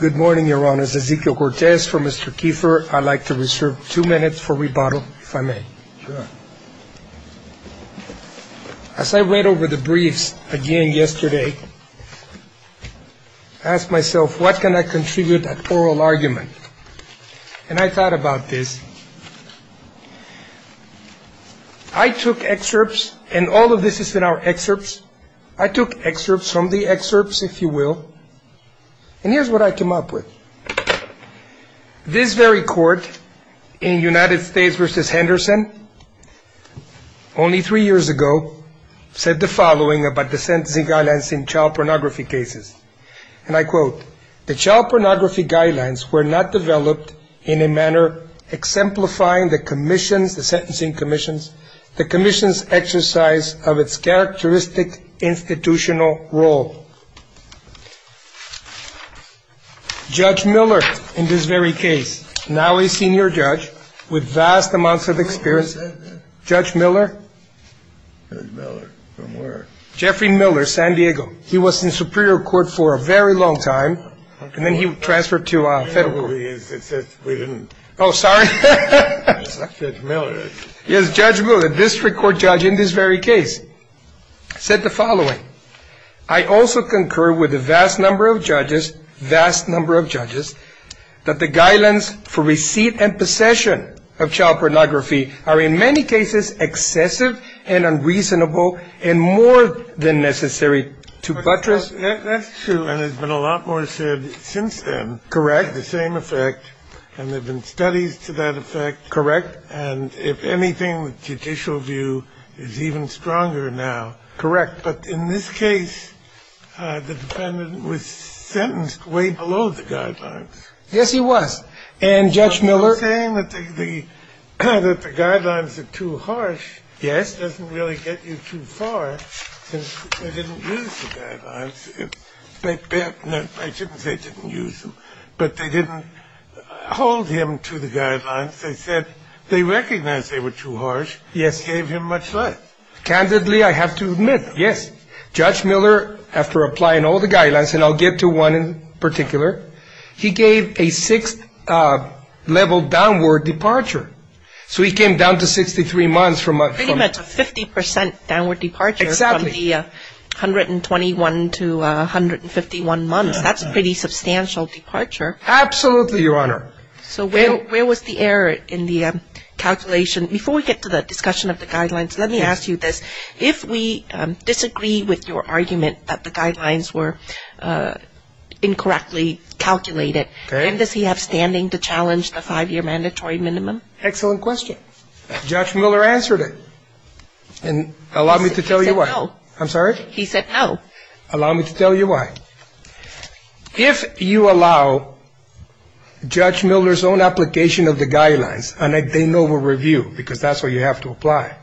Good morning, your honors. Ezequiel Cortez for Mr. Kiefer. I'd like to reserve two minutes for rebuttal, if I may. As I read over the briefs again yesterday, I asked myself, what can I contribute at oral argument? And I thought about this. I took excerpts, and all of this is in our excerpts. I took excerpts from the excerpts, if you will, and here's what I came up with. This very court in United States v. Henderson, only three years ago, said the following about the sentencing guidelines in child pornography cases. And I quote, the child pornography guidelines were not developed in a manner exemplifying the commission's, the sentencing commission's, the commission's exercise of its characteristic institutional role. Judge Miller, in this very case, now a senior judge with vast amounts of experience. Judge Miller, Judge Miller, from where? Jeffrey Miller, San Diego. He was in superior court for a very long time. And then he transferred to federal court. We didn't. Oh, sorry. Judge Miller. Yes, Judge Miller, the district court judge in this very case, said the following. I also concur with a vast number of judges, vast number of judges, that the guidelines for receipt and possession of child pornography are in many cases excessive and unreasonable and more than necessary to buttress. That's true. And there's been a lot more said since then. Correct. And there have been studies to that effect. Correct. And if anything, the judicial view is even stronger now. Correct. But in this case, the defendant was sentenced way below the guidelines. Yes, he was. And Judge Miller. You're saying that the guidelines are too harsh. Yes. Doesn't really get you too far since they didn't use the guidelines. I shouldn't say didn't use them, but they didn't hold him to the guidelines. They said they recognized they were too harsh. Yes. Gave him much less. Candidly, I have to admit, yes. Judge Miller, after applying all the guidelines, and I'll get to one in particular, he gave a sixth-level downward departure. So he came down to 63 months from a 50% downward departure. Exactly. From the 121 to 151 months. That's a pretty substantial departure. Absolutely, Your Honor. So where was the error in the calculation? Before we get to the discussion of the guidelines, let me ask you this. If we disagree with your argument that the guidelines were incorrectly calculated, does he have standing to challenge the five-year mandatory minimum? Excellent question. Judge Miller answered it. And allow me to tell you why. He said no. I'm sorry? He said no. Allow me to tell you why. If you allow Judge Miller's own application of the guidelines, and they know we'll review because that's what you have to apply,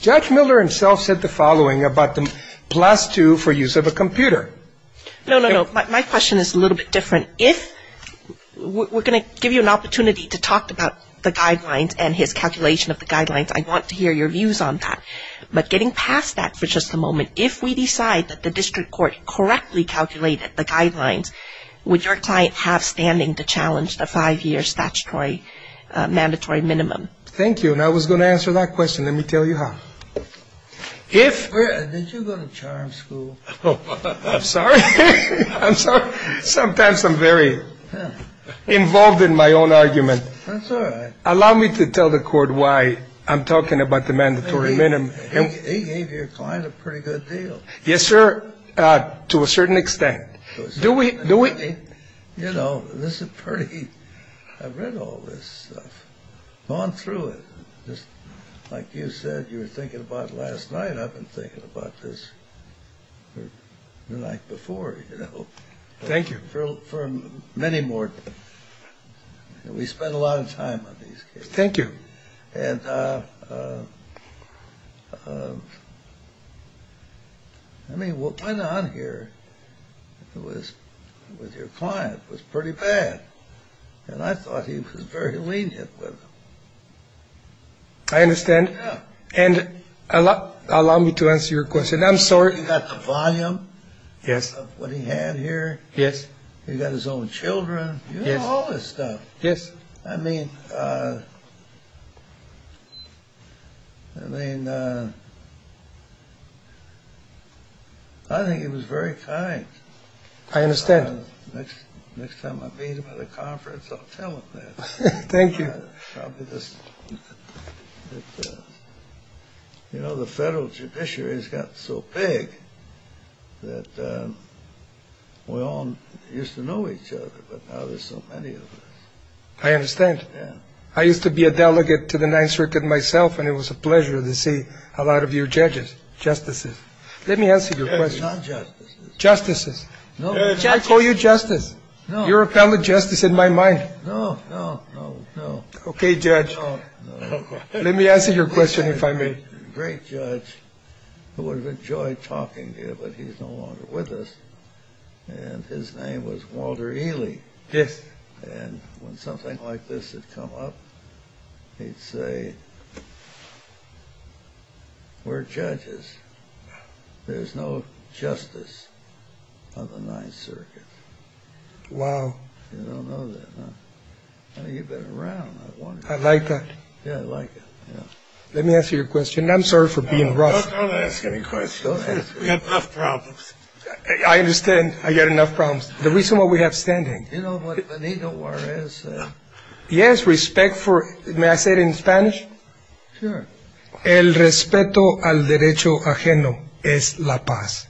Judge Miller himself said the following about the plus two for use of a computer. No, no, no. My question is a little bit different. If we're going to give you an opportunity to talk about the guidelines and his calculation of the guidelines, I'd want to hear your views on that. But getting past that for just a moment, if we decide that the district court correctly calculated the guidelines, would your client have standing to challenge the five-year statutory mandatory minimum? Thank you. And I was going to answer that question. Let me tell you how. Did you go to charm school? I'm sorry. I'm sorry. Sometimes I'm very involved in my own argument. That's all right. Allow me to tell the court why I'm talking about the mandatory minimum. He gave your client a pretty good deal. Yes, sir. To a certain extent. Do we? You know, this is pretty, I've read all this stuff, gone through it. Like you said, you were thinking about it last night. I've been thinking about this the night before, you know. Thank you. For many more. We spend a lot of time on these cases. Thank you. And, I mean, what went on here with your client was pretty bad. And I thought he was very lenient with them. I understand. And allow me to answer your question. I'm sorry. You got the volume. Yes. Of what he had here. Yes. He got his own children. You know, all this stuff. Yes. I mean, I mean, I think he was very kind. I understand. Next time I meet him at a conference, I'll tell him that. Thank you. You know, the federal judiciary has gotten so big that we all used to know each other, but now there's so many of us. I understand. Yes. I used to be a delegate to the Ninth Circuit myself, and it was a pleasure to see a lot of your judges, justices. Let me answer your question. Not justices. Justices. No. I call you justice. No. Your appellate justice in my mind. No, no, no, no. Okay, judge. No, no. Let me answer your question if I may. A great judge who would have enjoyed talking to you, but he's no longer with us, and his name was Walter Ely. Yes. And when something like this had come up, he'd say, we're judges. There's no justice on the Ninth Circuit. Wow. You don't know that, huh? You've been around. I like that. Yeah, I like it. Let me answer your question. I'm sorry for being rough. Don't ask any questions. We've got enough problems. I understand. I've got enough problems. The reason why we have standing. You know what an ego war is? Yes, respect for, may I say it in Spanish? Sure. El respeto al derecho ajeno es la paz.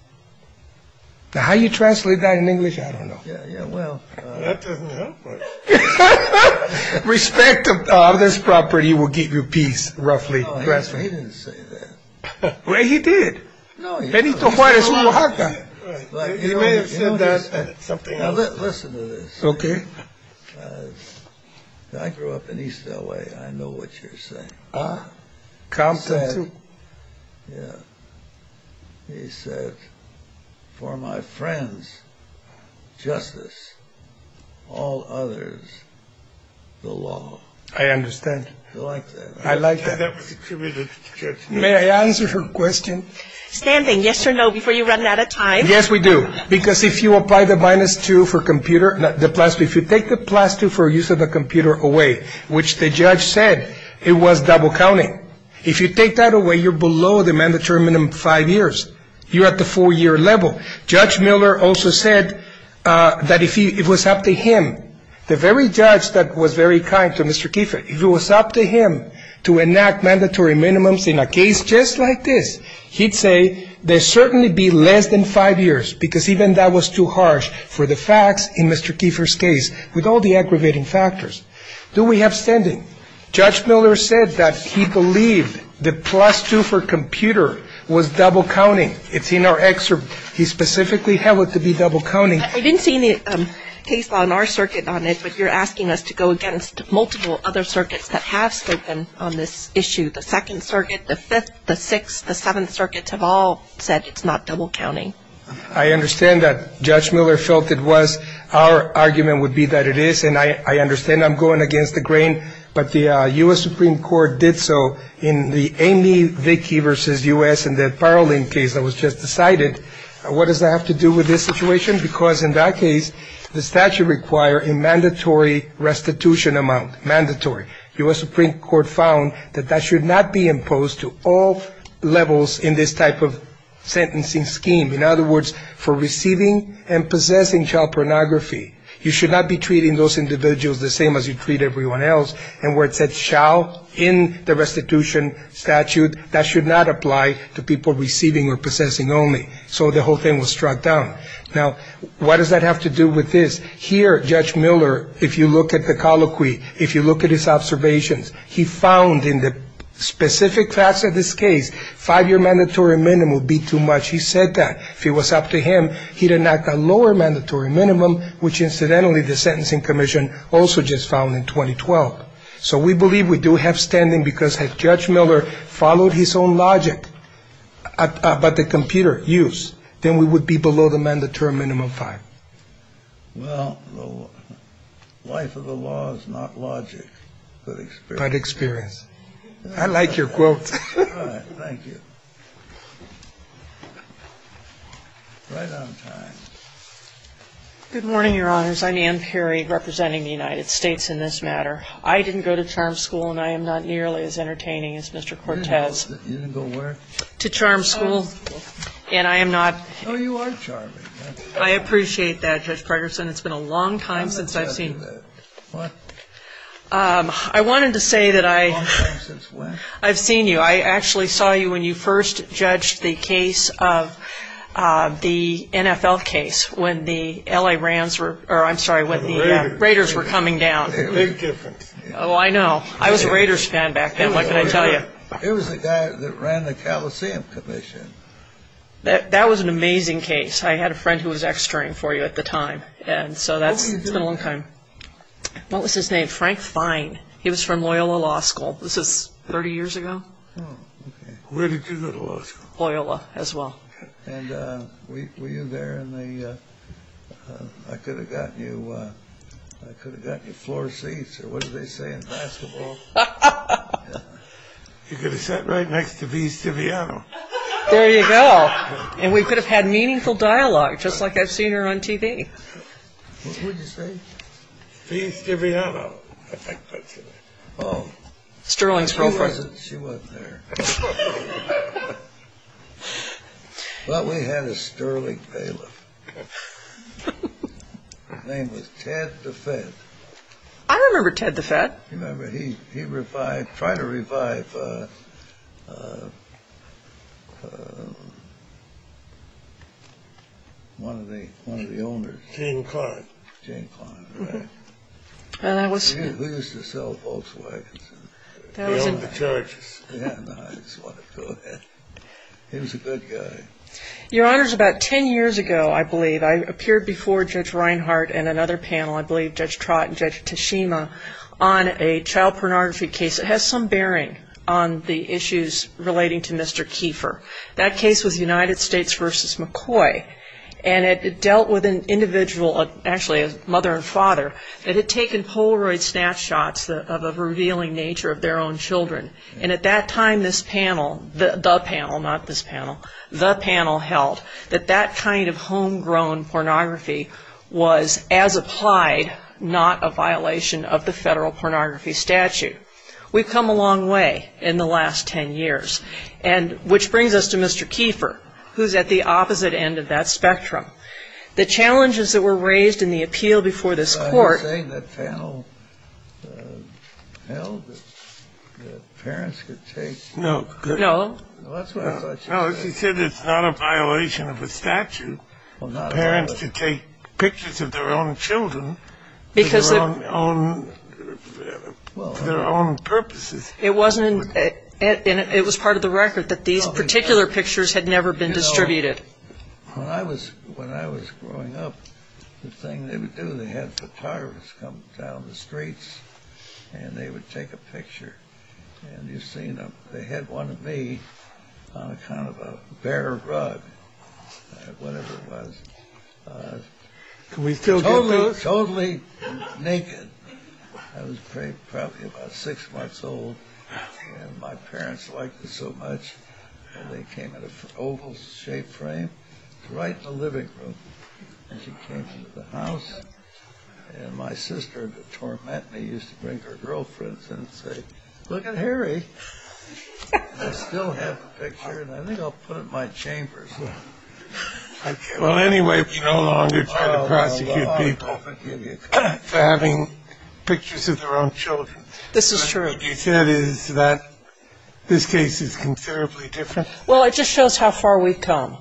Now, how do you translate that in English? I don't know. Yeah, well. That doesn't help much. Respect of this property will give you peace, roughly. No, he didn't say that. Well, he did. No, he didn't. Benito Juarez, Oaxaca. He may have said that, something else. Now, listen to this. Okay. I grew up in East LA. I know what you're saying. Compton, too. Yeah. He said, for my friends, justice. All others, the law. I understand. I like that. I like that. May I answer her question? Standing, yes or no, before you run out of time. Yes, we do. Because if you apply the minus 2 for computer, the plus 2, if you take the plus 2 for use of the computer away, which the judge said it was double counting. If you take that away, you're below the mandatory minimum of five years. You're at the four-year level. Judge Miller also said that if it was up to him, the very judge that was very kind to Mr. Kiefer, if it was up to him to enact mandatory minimums in a case just like this, he'd say there'd certainly be less than five years, because even that was too harsh for the facts in Mr. Kiefer's case, with all the aggravating factors. Do we have standing? Judge Miller said that he believed the plus 2 for computer was double counting. It's in our excerpt. He specifically held it to be double counting. I didn't see any case law in our circuit on it, but you're asking us to go against multiple other circuits that have spoken on this issue. The Second Circuit, the Fifth, the Sixth, the Seventh Circuits have all said it's not double counting. I understand that Judge Miller felt it was. Our argument would be that it is. And I understand I'm going against the grain, but the U.S. Supreme Court did so in the Amy Vickie v. U.S. in the Parolin case that was just decided. What does that have to do with this situation? Because in that case, the statute required a mandatory restitution amount, mandatory. U.S. Supreme Court found that that should not be imposed to all levels in this type of sentencing scheme. In other words, for receiving and possessing child pornography, you should not be treating those individuals the same as you treat everyone else. And where it said shall in the restitution statute, that should not apply to people receiving or possessing only. So the whole thing was struck down. Now, what does that have to do with this? Here, Judge Miller, if you look at the colloquy, if you look at his observations, he found in the specific facts of this case, five-year mandatory minimum would be too much. He said that. If it was up to him, he'd enact a lower mandatory minimum, which incidentally the Sentencing Commission also just found in 2012. So we believe we do have standing because if Judge Miller followed his own logic about the computer use, then we would be below the mandatory minimum five. Well, the life of the law is not logic, but experience. But experience. I like your quote. All right. Thank you. Right on time. Good morning, Your Honors. I'm Ann Perry, representing the United States in this matter. I didn't go to CHARM school, and I am not nearly as entertaining as Mr. Cortez. You didn't go where? To CHARM school, and I am not. Oh, you are charming. I appreciate that, Judge Pregerson. It's been a long time since I've seen. What? I wanted to say that I. A long time since when? I've seen you. I actually saw you when you first judged the case of the NFL case when the L.A. Rams were, or I'm sorry, when the Raiders were coming down. A big difference. Oh, I know. I was a Raiders fan back then. What can I tell you? It was the guy that ran the Coliseum Commission. That was an amazing case. I had a friend who was extering for you at the time, and so that's been a long time. What was his name? Frank Fine. He was from Loyola Law School. This is 30 years ago. Oh, okay. Where did you go to law school? Loyola as well. And were you there in the, I could have gotten you floor seats, or what do they say in basketball? You could have sat right next to V. Estiviano. There you go. And we could have had meaningful dialogue, just like I've seen her on TV. What did you say? V. Estiviano. Oh. Sterling's girlfriend. She wasn't there. But we had a Sterling bailiff. His name was Ted DeFed. I remember Ted DeFed. You remember? He tried to revive one of the owners. Jane Clark. Jane Clark, right. Who used to sell Volkswagens? He owned the churches. Yeah, I just wanted to go ahead. He was a good guy. Your Honors, about 10 years ago, I believe, I appeared before Judge Reinhart and another panel, I believe Judge Trott and Judge Tashima, on a child pornography case. It has some bearing on the issues relating to Mr. Kiefer. That case was United States v. McCoy, and it dealt with an individual, actually a mother and father, that had taken Polaroid snapshots of a revealing nature of their own children. And at that time, this panel, the panel, not this panel, the panel held, that that kind of homegrown pornography was, as applied, not a violation of the federal pornography statute. We've come a long way in the last 10 years, which brings us to Mr. Kiefer, who's at the opposite end of that spectrum. The challenges that were raised in the appeal before this Court. I'm saying that panel held that parents could take. No. No. That's what I thought you said. No, she said it's not a violation of the statute, for parents to take pictures of their own children for their own purposes. It wasn't, and it was part of the record, that these particular pictures had never been distributed. When I was growing up, the thing they would do, they had photographers come down the streets, and they would take a picture. And you've seen them. They had one of me on a kind of a bare rug, whatever it was. Can we still get those? Totally naked. I was probably about six months old, and my parents liked it so much, and they came in an oval-shaped frame, right in the living room. And she came to the house, and my sister would torment me, used to bring her girlfriends and say, look at Harry. I still have the picture, and I think I'll put it in my chamber. Well, anyway, we no longer try to prosecute people for having pictures of their own children. This is true. Well, it just shows how far we've come,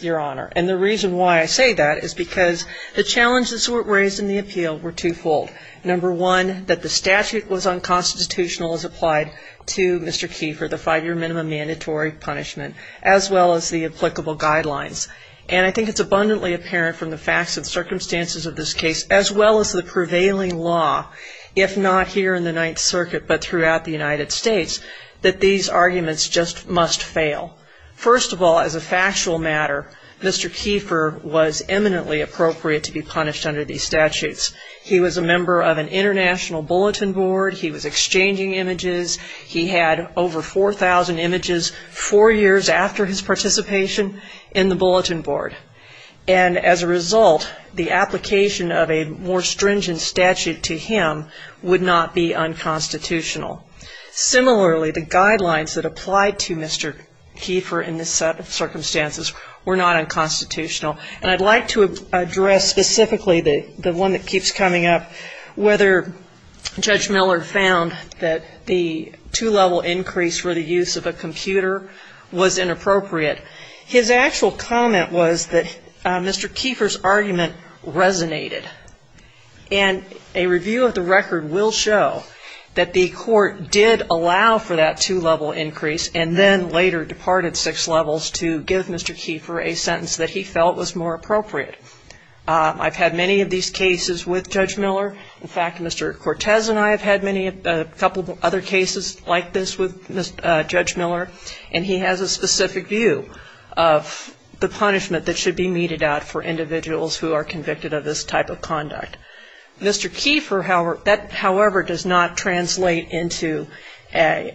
Your Honor. And the reason why I say that is because the challenges that were raised in the appeal were twofold. Number one, that the statute was unconstitutional as applied to Mr. Keefer, the five-year minimum mandatory punishment, as well as the applicable guidelines. And I think it's abundantly apparent from the facts and circumstances of this case, as well as the prevailing law, if not here in the Ninth Circuit, but throughout the United States, that these arguments just must fail. First of all, as a factual matter, Mr. Keefer was eminently appropriate to be punished under these statutes. He was a member of an international bulletin board. He was exchanging images. He had over 4,000 images four years after his participation in the bulletin board. And as a result, the application of a more stringent statute to him would not be unconstitutional. Similarly, the guidelines that applied to Mr. Keefer in this set of circumstances were not unconstitutional. And I'd like to address specifically the one that keeps coming up, whether Judge Miller found that the two-level increase for the use of a computer was inappropriate. His actual comment was that Mr. Keefer's argument resonated. And a review of the record will show that the court did allow for that two-level increase and then later departed six levels to give Mr. Keefer a sentence that he felt was more appropriate. I've had many of these cases with Judge Miller. In fact, Mr. Cortez and I have had many, a couple of other cases like this with Judge Miller, and he has a specific view of the punishment that should be meted out for unconstitutional conduct. Mr. Keefer, however, that however does not translate into an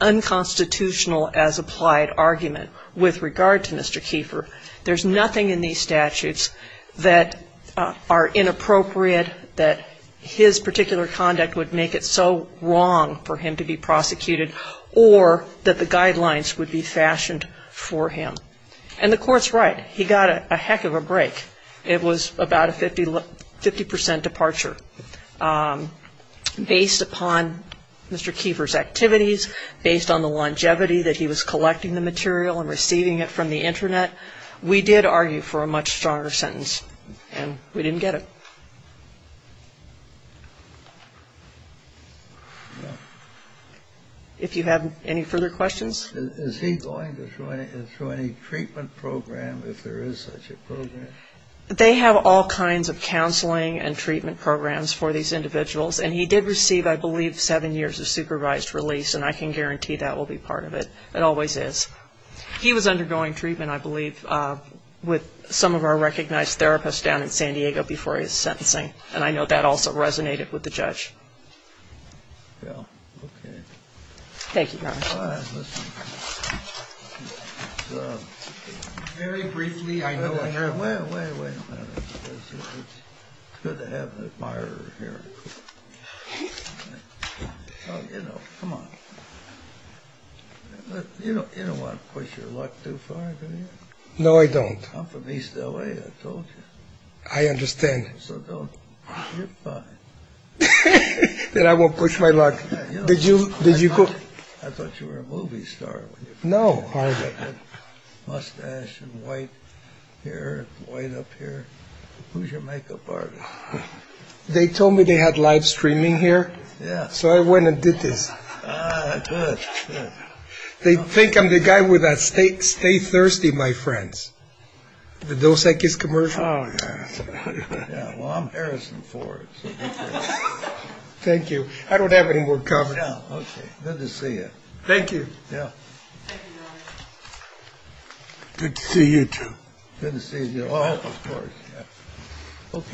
unconstitutional as applied argument with regard to Mr. Keefer. There's nothing in these statutes that are inappropriate, that his particular conduct would make it so wrong for him to be prosecuted, or that the guidelines would be fashioned for him. And the court's right. He got a heck of a break. It was about a 50 percent departure. Based upon Mr. Keefer's activities, based on the longevity that he was collecting the material and receiving it from the Internet, we did argue for a much stronger sentence. And we didn't get it. If you have any further questions? Is he going through any treatment program if there is such a program? They have all kinds of counseling and treatment programs for these individuals. And he did receive, I believe, seven years of supervised release, and I can guarantee that will be part of it. It always is. He was undergoing treatment, I believe, with some of our recognized therapists down in San Diego before his sentencing. And I know that also resonated with the judge. Well, okay. Thank you, Your Honor. Very briefly, I know. Wait a minute. It's good to have an admirer here. You know, come on. You don't want to push your luck too far, do you? No, I don't. I'm from East L.A., I told you. I understand. So don't. You're fine. Then I won't push my luck. I thought you were a movie star. No. Mustache and white hair, white up here. Who's your makeup artist? They told me they had live streaming here, so I went and did this. Good. They think I'm the guy with that Stay Thirsty, My Friends, the Dos Equis commercial. Oh, yeah. Well, I'm Harrison Ford. Thank you. I don't have any more comments. No. Okay. Good to see you. Thank you. Yeah. Thank you, Your Honor. Good to see you, too. Good to see you. Oh, of course. Yeah.